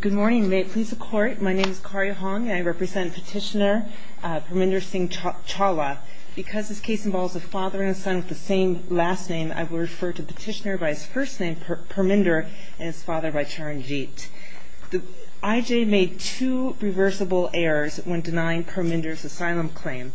Good morning, may it please the court, my name is Karya Hong and I represent Petitioner Parminder Singh Chawla. Because this case involves a father and a son with the same last name, I will refer to Petitioner by his first name, Parminder, and his father by Charanjit. I.J. made two reversible errors when denying Parminder's asylum claim.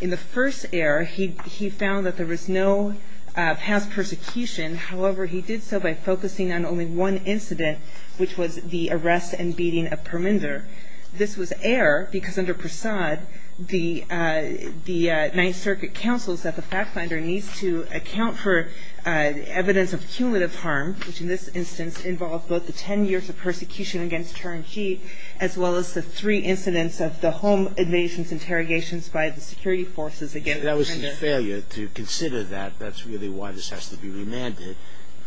In the first error, he found that there was no past persecution, however, he did so by focusing on only one incident, which was the arrest and beating of Parminder. This was error because under Prasad, the Ninth Circuit counsels that the fact finder needs to account for evidence of cumulative harm, which in this instance involved both the ten years of persecution against Charanjit, as well as the three incidents of the home invasions interrogations by the security forces against Parminder. If that was a failure to consider that, that's really why this has to be remanded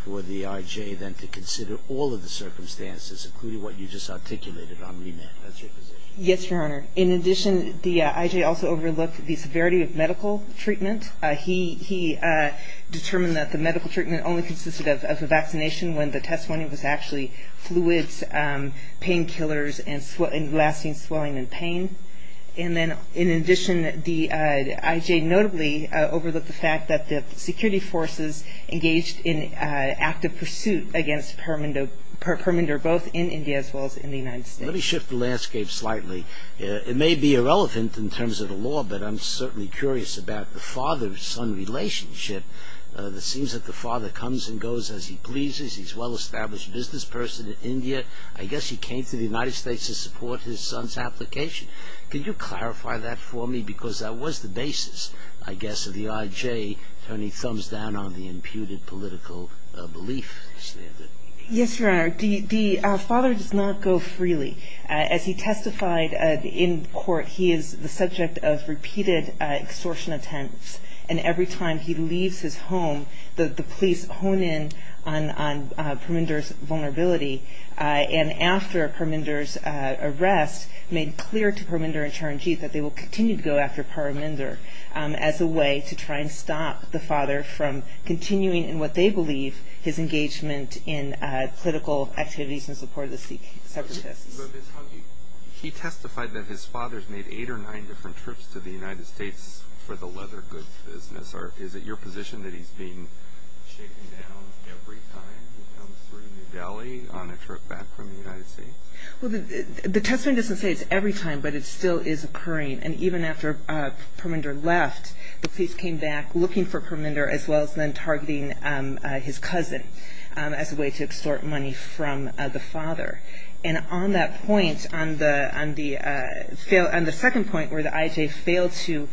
for the I.J. then to consider all of the circumstances, including what you just articulated on remand, that's your position? Yes, Your Honor. In addition, the I.J. also overlooked the severity of medical treatment. He determined that the medical treatment only consisted of a vaccination when the testimony was actually fluids, painkillers, and lasting swelling and pain. In addition, the I.J. notably overlooked the fact that the security forces engaged in active pursuit against Parminder, both in India as well as in the United States. Let me shift the landscape slightly. It may be irrelevant in terms of the law, but I'm certainly curious about the father-son relationship. It seems that the father comes and goes as he pleases. He's a well-established business person in India. I guess he came to the United States to support his son's application. Can you clarify that for me? Because that was the basis, I guess, of the I.J. turning thumbs down on the imputed political belief standard. Yes, Your Honor. The father does not go freely. As he testified in court, he is the subject of repeated extortion attempts. And every time he leaves his home, the police hone in on Parminder's vulnerability. And after Parminder's arrest, made clear to Parminder and Charanjeev that they will continue to go after Parminder as a way to try and stop the father from continuing in what they believe his engagement in political activities in support of the separatists. He testified that his father's made eight or nine different trips to the United States for the leather goods business. Is it your position that he's being shaken down every time he comes through New Delhi on a trip back from the United States? The testimony doesn't say it's every time, but it still is occurring. And even after Parminder left, the police came back looking for Parminder as well as then targeting his cousin as a way to extort money from the father. And on that point, on the second point where the I.J. failed to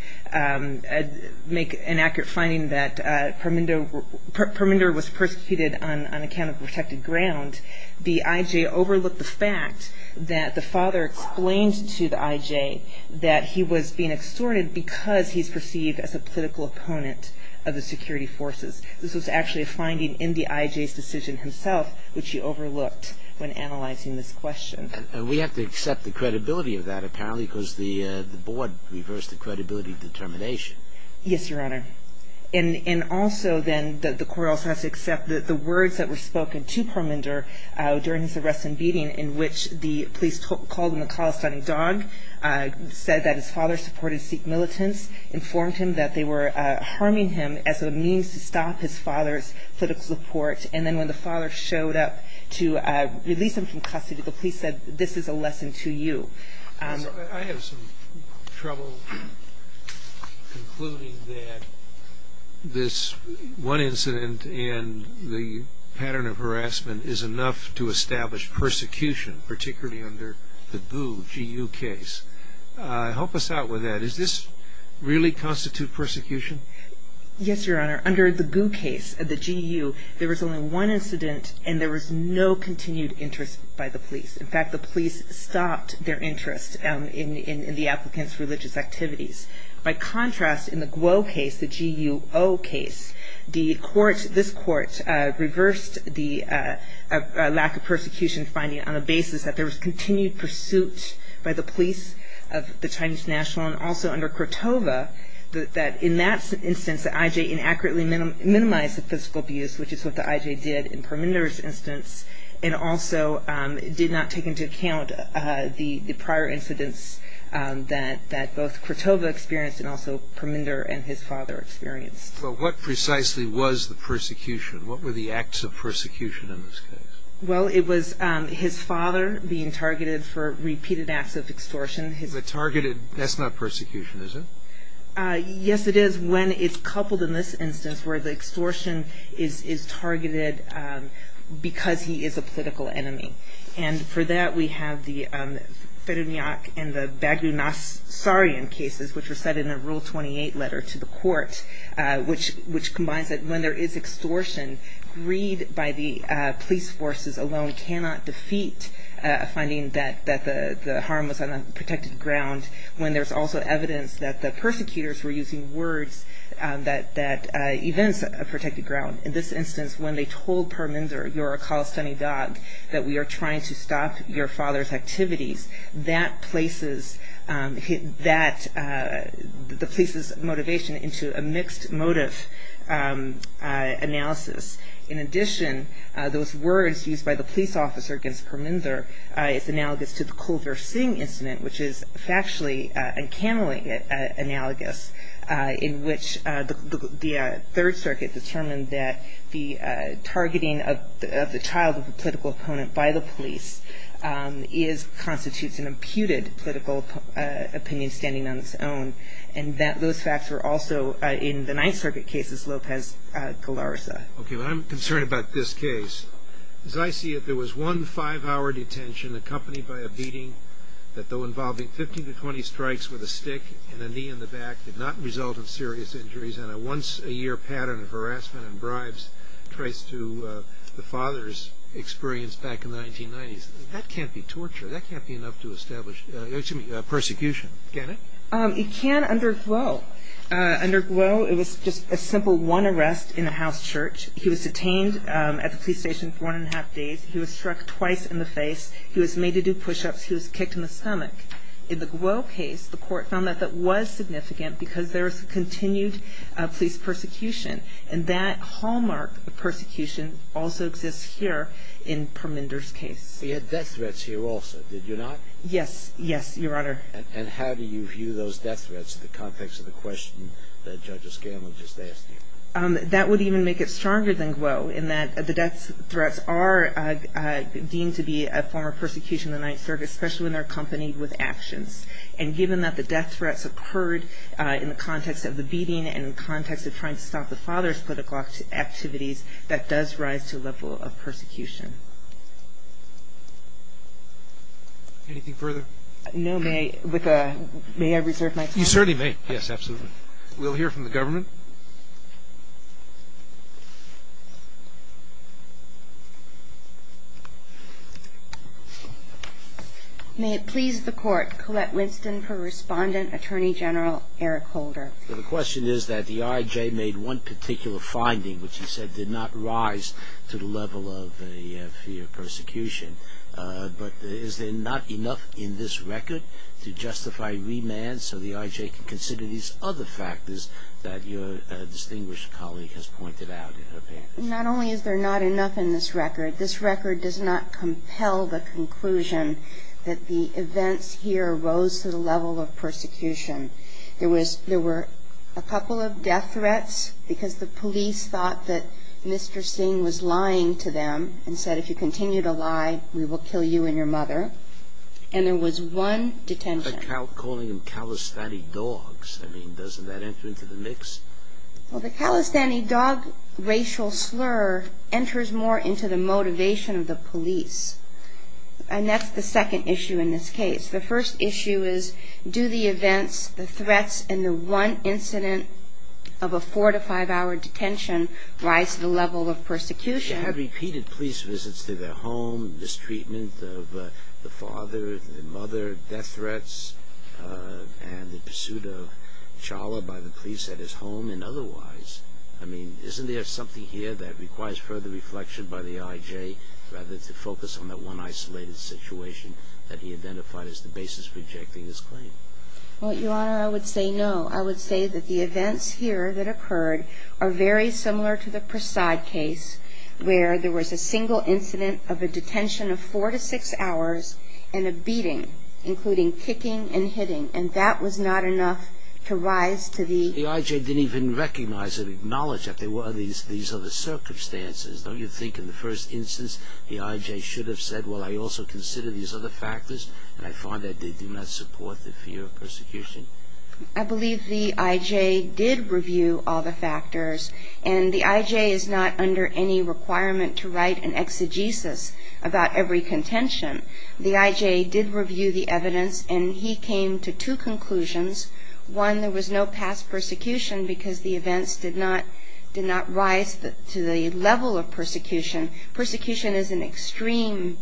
make an accurate finding that Parminder was persecuted on account of protected ground, the I.J. overlooked the fact that the father explained to the I.J. that he was being extorted because he's perceived as a political opponent of the security forces. This was actually a finding in the I.J.'s decision himself, which he overlooked when analyzing this question. And we have to accept the credibility of that, apparently, because the board reversed the credibility determination. Yes, Your Honor. And also, then, the court also has to accept that the words that were spoken to Parminder during his arrest and beating, in which the police called him a calisthenic dog, said that his father supported Sikh militants, the police informed him that they were harming him as a means to stop his father's political support. And then when the father showed up to release him from custody, the police said, this is a lesson to you. I have some trouble concluding that this one incident and the pattern of harassment is enough to establish persecution, particularly under the Boo, G.U. case. Help us out with that. Does this really constitute persecution? Yes, Your Honor. Under the Boo case, the G.U., there was only one incident, and there was no continued interest by the police. In fact, the police stopped their interest in the applicant's religious activities. By contrast, in the Guo case, the G.U.O. case, the court, this court, reversed the lack of persecution finding on the basis that there was continued pursuit by the police of the Chinese national, and also under Kratova, that in that instance, the I.J. inaccurately minimized the physical abuse, which is what the I.J. did in Parminder's instance, and also did not take into account the prior incidents that both Kratova experienced and also Parminder and his father experienced. Well, what precisely was the persecution? What were the acts of persecution in this case? Well, it was his father being targeted for repeated acts of extortion. But targeted, that's not persecution, is it? Yes, it is when it's coupled in this instance where the extortion is targeted because he is a political enemy. And for that, we have the Ferenyak and the Bagunasarian cases, which were set in a Rule 28 letter to the court, which combines that when there is extortion, greed by the police forces alone cannot defeat a finding that the harm was on a protected ground, when there's also evidence that the persecutors were using words that events a protected ground. In this instance, when they told Parminder, you're a Khalistani dog, that we are trying to stop your father's activities, that places the police's motivation into a mixed motive analysis. In addition, those words used by the police officer against Parminder is analogous to the Kulver Singh incident, which is factually and canonically analogous, in which the Third Circuit determined that the targeting of the child of a political opponent by the police constitutes an imputed political opinion standing on its own, and that those facts were also in the Ninth Circuit cases, Lopez-Galarza. Okay, well, I'm concerned about this case. As I see it, there was one five-hour detention accompanied by a beating that, though involving 15 to 20 strikes with a stick and a knee in the back, did not result in serious injuries, and a once-a-year pattern of harassment and bribes traced to the father's experience back in the 1990s. That can't be torture. That can't be enough to establish persecution, can it? It can underglow. Underglow, it was just a simple one arrest in a house church. He was detained at the police station for one and a half days. He was struck twice in the face. He was made to do push-ups. He was kicked in the stomach. In the Glow case, the court found that that was significant because there was continued police persecution, and that hallmark of persecution also exists here in Parminder's case. He had death threats here also, did you not? Yes, yes, Your Honor. And how do you view those death threats in the context of the question that Judge Escanla just asked you? That would even make it stronger than Glow, in that the death threats are deemed to be a form of persecution in the Ninth Circuit, especially when they're accompanied with actions. And given that the death threats occurred in the context of the beating and in the context of trying to stop the father's political activities, that does rise to a level of persecution. Anything further? No. May I reserve my time? You certainly may. Yes, absolutely. We'll hear from the government. May it please the Court, Colette Winston for Respondent, Attorney General Eric Holder. The question is that the I.J. made one particular finding, which he said did not rise to the level of the fear of persecution. But is there not enough in this record to justify remand so the I.J. can consider these other factors that your distinguished colleague has pointed out in her opinion? Not only is there not enough in this record, this record does not compel the conclusion that the events here rose to the level of persecution. There were a couple of death threats because the police thought that Mr. Singh was lying to them and said if you continue to lie, we will kill you and your mother. And there was one detention. But calling them Calisthani dogs, I mean, doesn't that enter into the mix? Well, the Calistani dog racial slur enters more into the motivation of the police. And that's the second issue in this case. The first issue is do the events, the threats, and the one incident of a four- to five-hour detention rise to the level of persecution? She had repeated police visits to their home, mistreatment of the father, the mother, death threats, and the pursuit of Chawla by the police at his home and otherwise. I mean, isn't there something here that requires further reflection by the I.J. rather to focus on that one isolated situation that he identified as the basis for rejecting his claim? Well, Your Honor, I would say no. I would say that the events here that occurred are very similar to the Prasad case. Where there was a single incident of a detention of four to six hours and a beating, including kicking and hitting, and that was not enough to rise to the... The I.J. didn't even recognize or acknowledge that there were these other circumstances. Don't you think in the first instance the I.J. should have said, well, I also consider these other factors, and I find that they do not support the fear of persecution? I believe the I.J. did review all the factors. And the I.J. is not under any requirement to write an exegesis about every contention. The I.J. did review the evidence, and he came to two conclusions. One, there was no past persecution because the events did not rise to the level of persecution. Persecution is an extreme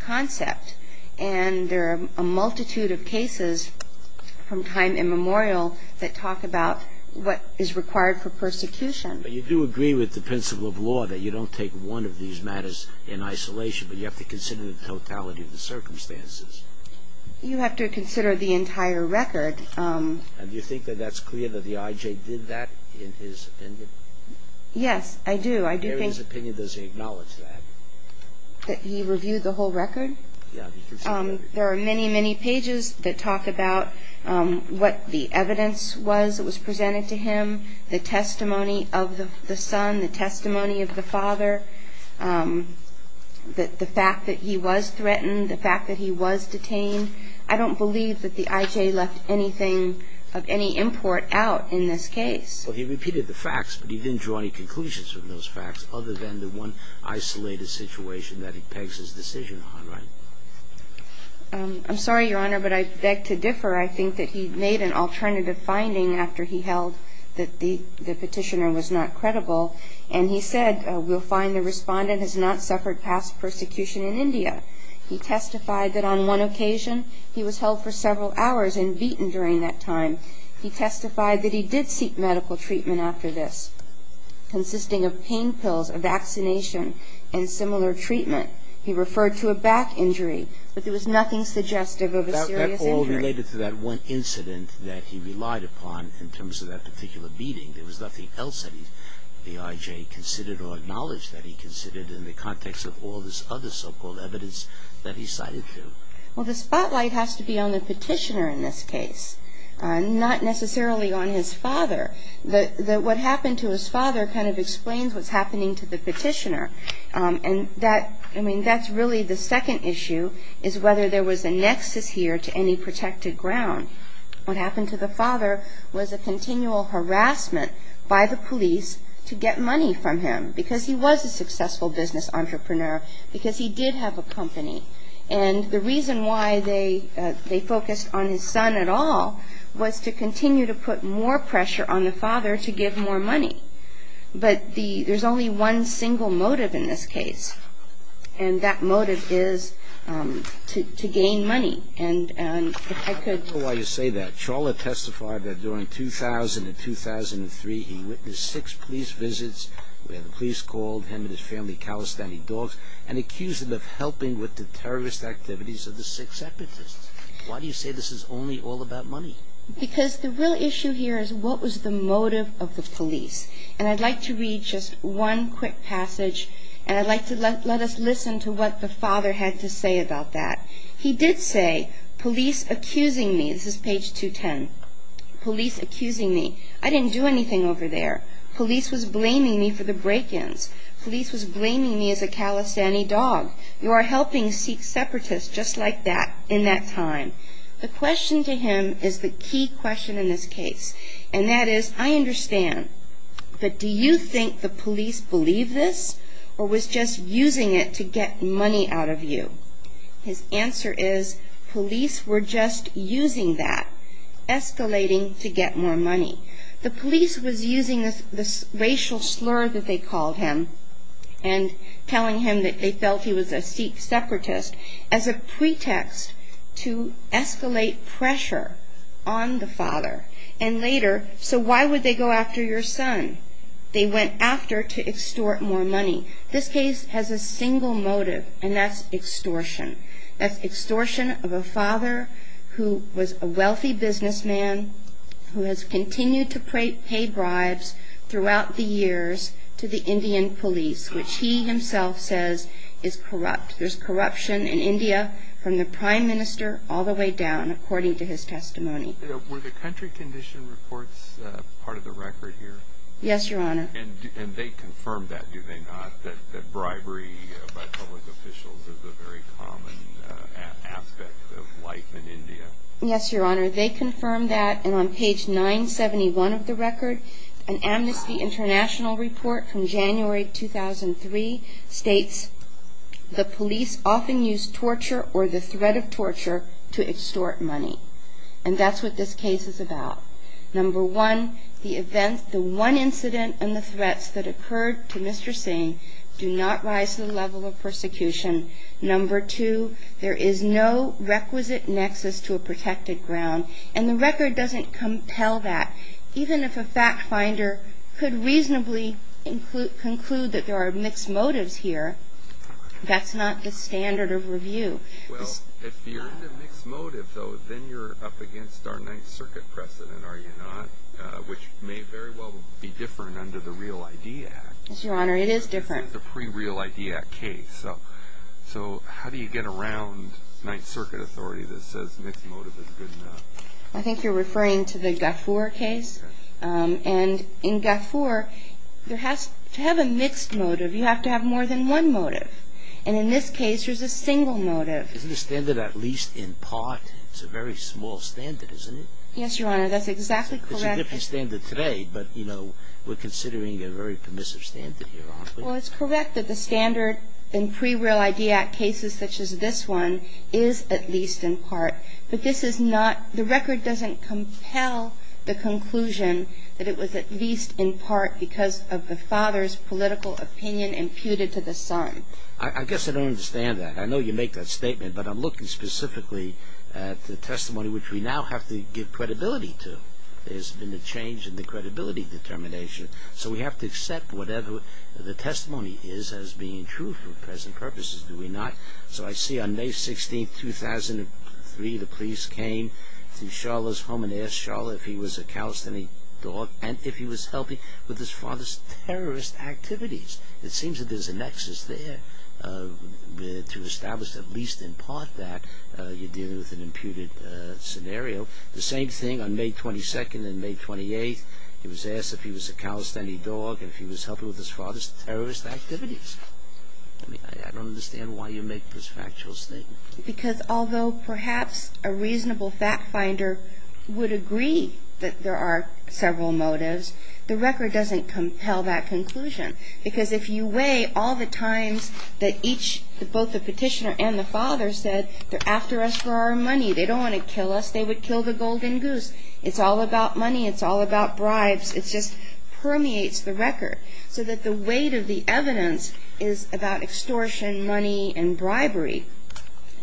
concept, and there are a multitude of cases from time immemorial that talk about what is required for persecution. But you do agree with the principle of law that you don't take one of these matters in isolation, but you have to consider the totality of the circumstances. You have to consider the entire record. And do you think that that's clear that the I.J. did that in his opinion? Yes, I do. I do think... In his opinion, does he acknowledge that? That he reviewed the whole record? Yeah. There are many, many pages that talk about what the evidence was that was presented to him, the testimony of the son, the testimony of the father, the fact that he was threatened, the fact that he was detained. I don't believe that the I.J. left anything of any import out in this case. Well, he repeated the facts, but he didn't draw any conclusions from those facts other than the one isolated situation that he pegs his decision on, right? I'm sorry, Your Honor, but I beg to differ. I think that he made an alternative finding after he held that the petitioner was not credible, and he said, We'll find the respondent has not suffered past persecution in India. He testified that on one occasion he was held for several hours and beaten during that time. He testified that he did seek medical treatment after this, consisting of pain pills, a vaccination, and similar treatment. He referred to a back injury, but there was nothing suggestive of a serious injury. That all related to that one incident that he relied upon in terms of that particular beating. There was nothing else that the I.J. considered or acknowledged that he considered in the context of all this other so-called evidence that he cited, too. Well, the spotlight has to be on the petitioner in this case, not necessarily on his father. What happened to his father kind of explains what's happening to the petitioner. And that's really the second issue, is whether there was a nexus here to any protected ground. What happened to the father was a continual harassment by the police to get money from him, because he was a successful business entrepreneur, because he did have a company. And the reason why they focused on his son at all was to continue to put more pressure on the father to give more money. But there's only one single motive in this case, and that motive is to gain money. And if I could... I don't know why you say that. Chawla testified that during 2000 and 2003 he witnessed six police visits where the police called him and his family of Kalestani dogs and accused him of helping with the terrorist activities of the six separatists. Why do you say this is only all about money? Because the real issue here is what was the motive of the police. And I'd like to read just one quick passage, and I'd like to let us listen to what the father had to say about that. He did say, Police accusing me... This is page 210. Police accusing me. I didn't do anything over there. Police was blaming me for the break-ins. Police was blaming me as a Kalestani dog. You are helping Sikh separatists, just like that, in that time. The question to him is the key question in this case, and that is, I understand, but do you think the police believe this or was just using it to get money out of you? His answer is, police were just using that, escalating to get more money. The police was using this racial slur that they called him and telling him that they felt he was a Sikh separatist as a pretext to escalate pressure on the father. And later, so why would they go after your son? They went after to extort more money. This case has a single motive, and that's extortion. That's extortion of a father who was a wealthy businessman who has continued to pay bribes throughout the years to the Indian police, which he himself says is corrupt. There's corruption in India from the prime minister all the way down, according to his testimony. Were the country condition reports part of the record here? Yes, Your Honor. And they confirmed that, do they not, Yes, Your Honor. They confirmed that, and on page 971 of the record, an Amnesty International report from January 2003 states, the police often use torture or the threat of torture to extort money. And that's what this case is about. Number one, the one incident and the threats that occurred to Mr. Singh do not rise to the level of persecution. Number two, there is no requisite nexus to a protected ground, and the record doesn't compel that. Even if a fact finder could reasonably conclude that there are mixed motives here, that's not the standard of review. Well, if you're in a mixed motive, though, then you're up against our Ninth Circuit precedent, are you not, which may very well be different under the Real ID Act. Yes, Your Honor, it is different. It's a pre-Real ID Act case. So how do you get around Ninth Circuit authority that says mixed motive is good enough? I think you're referring to the Gafoor case. And in Gafoor, to have a mixed motive, you have to have more than one motive. And in this case, there's a single motive. Isn't the standard at least in part, it's a very small standard, isn't it? Yes, Your Honor, that's exactly correct. It's a different standard today, but, you know, we're considering a very permissive standard here, aren't we? Well, it's correct that the standard in pre-Real ID Act cases such as this one is at least in part. But this is not, the record doesn't compel the conclusion that it was at least in part because of the father's political opinion imputed to the son. I guess I don't understand that. I know you make that statement, but I'm looking specifically at the testimony which we now have to give credibility to. There's been a change in the credibility determination. So we have to accept whatever the testimony is as being true for present purposes. Do we not? So I see on May 16, 2003, the police came to Sharla's home and asked Sharla if he was a calisthenic dog and if he was helping with his father's terrorist activities. It seems that there's a nexus there to establish at least in part that you're dealing with an imputed scenario. The same thing on May 22nd and May 28th. He was asked if he was a calisthenic dog and if he was helping with his father's terrorist activities. I don't understand why you make this factual statement. Because although perhaps a reasonable fact finder would agree that there are several motives, the record doesn't compel that conclusion. Because if you weigh all the times that each, both the petitioner and the father said, they're after us for our money, they don't want to kill us, they would kill the golden goose. It's all about money. It's all about bribes. It just permeates the record. So that the weight of the evidence is about extortion, money, and bribery.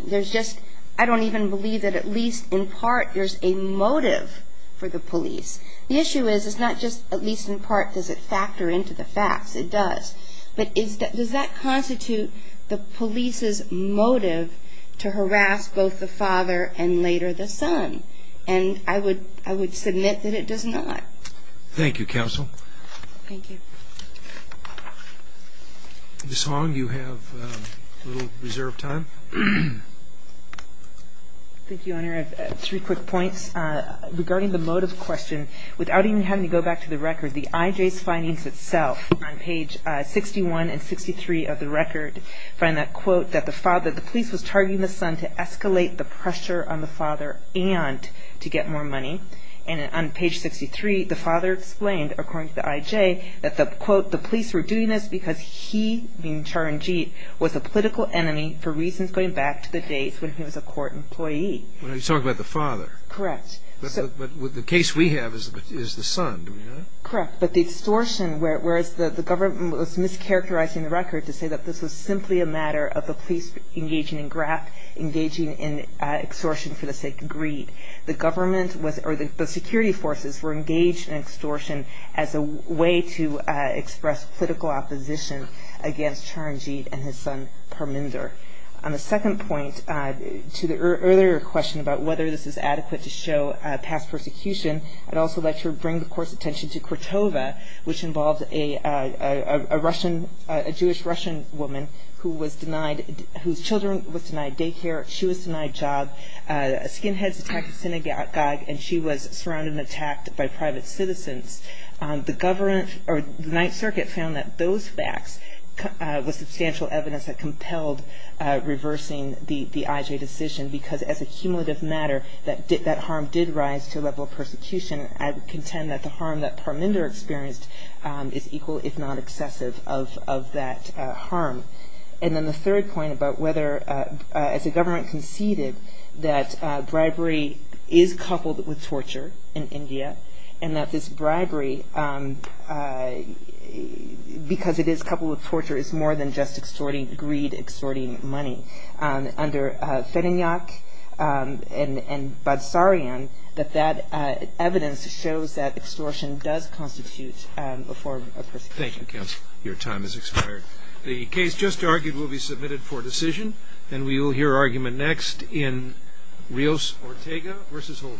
There's just, I don't even believe that at least in part there's a motive for the police. The issue is it's not just at least in part does it factor into the facts. It does. But does that constitute the police's motive to harass both the father and later the son? And I would submit that it does not. Thank you, Counsel. Thank you. Ms. Hong, you have a little reserved time. Thank you, Honor. I have three quick points. Regarding the motive question, without even having to go back to the record, the IJ's findings itself on page 61 and 63 of the record find that, quote, And on page 63, the father explained, according to the IJ, that, quote, You're talking about the father. Correct. But the case we have is the son, do we know that? Correct, but the extortion, whereas the government was mischaracterizing the record to say that this was simply a matter of the police engaging in extortion for the sake of greed. The government or the security forces were engaged in extortion as a way to express political opposition against Charanjit and his son Parminder. On the second point, to the earlier question about whether this is adequate to show past persecution, I'd also like to bring the Court's attention to Kratova, which involves a Jewish-Russian woman whose children was denied daycare. She was denied a job. A skinhead attacked a synagogue and she was surrounded and attacked by private citizens. The government or the Ninth Circuit found that those facts were substantial evidence that compelled reversing the IJ decision because, as a cumulative matter, that harm did rise to a level of persecution. I would contend that the harm that Parminder experienced is equal, if not excessive, of that harm. And then the third point about whether, as the government conceded, that bribery is coupled with torture in India, and that this bribery, because it is coupled with torture, is more than just extorting greed, extorting money. Under Feninyak and Badsarian, that evidence shows that extortion does constitute a form of persecution. Thank you, Counsel. Your time has expired. The case just argued will be submitted for decision, and we will hear argument next in Rios-Ortega v. Holder.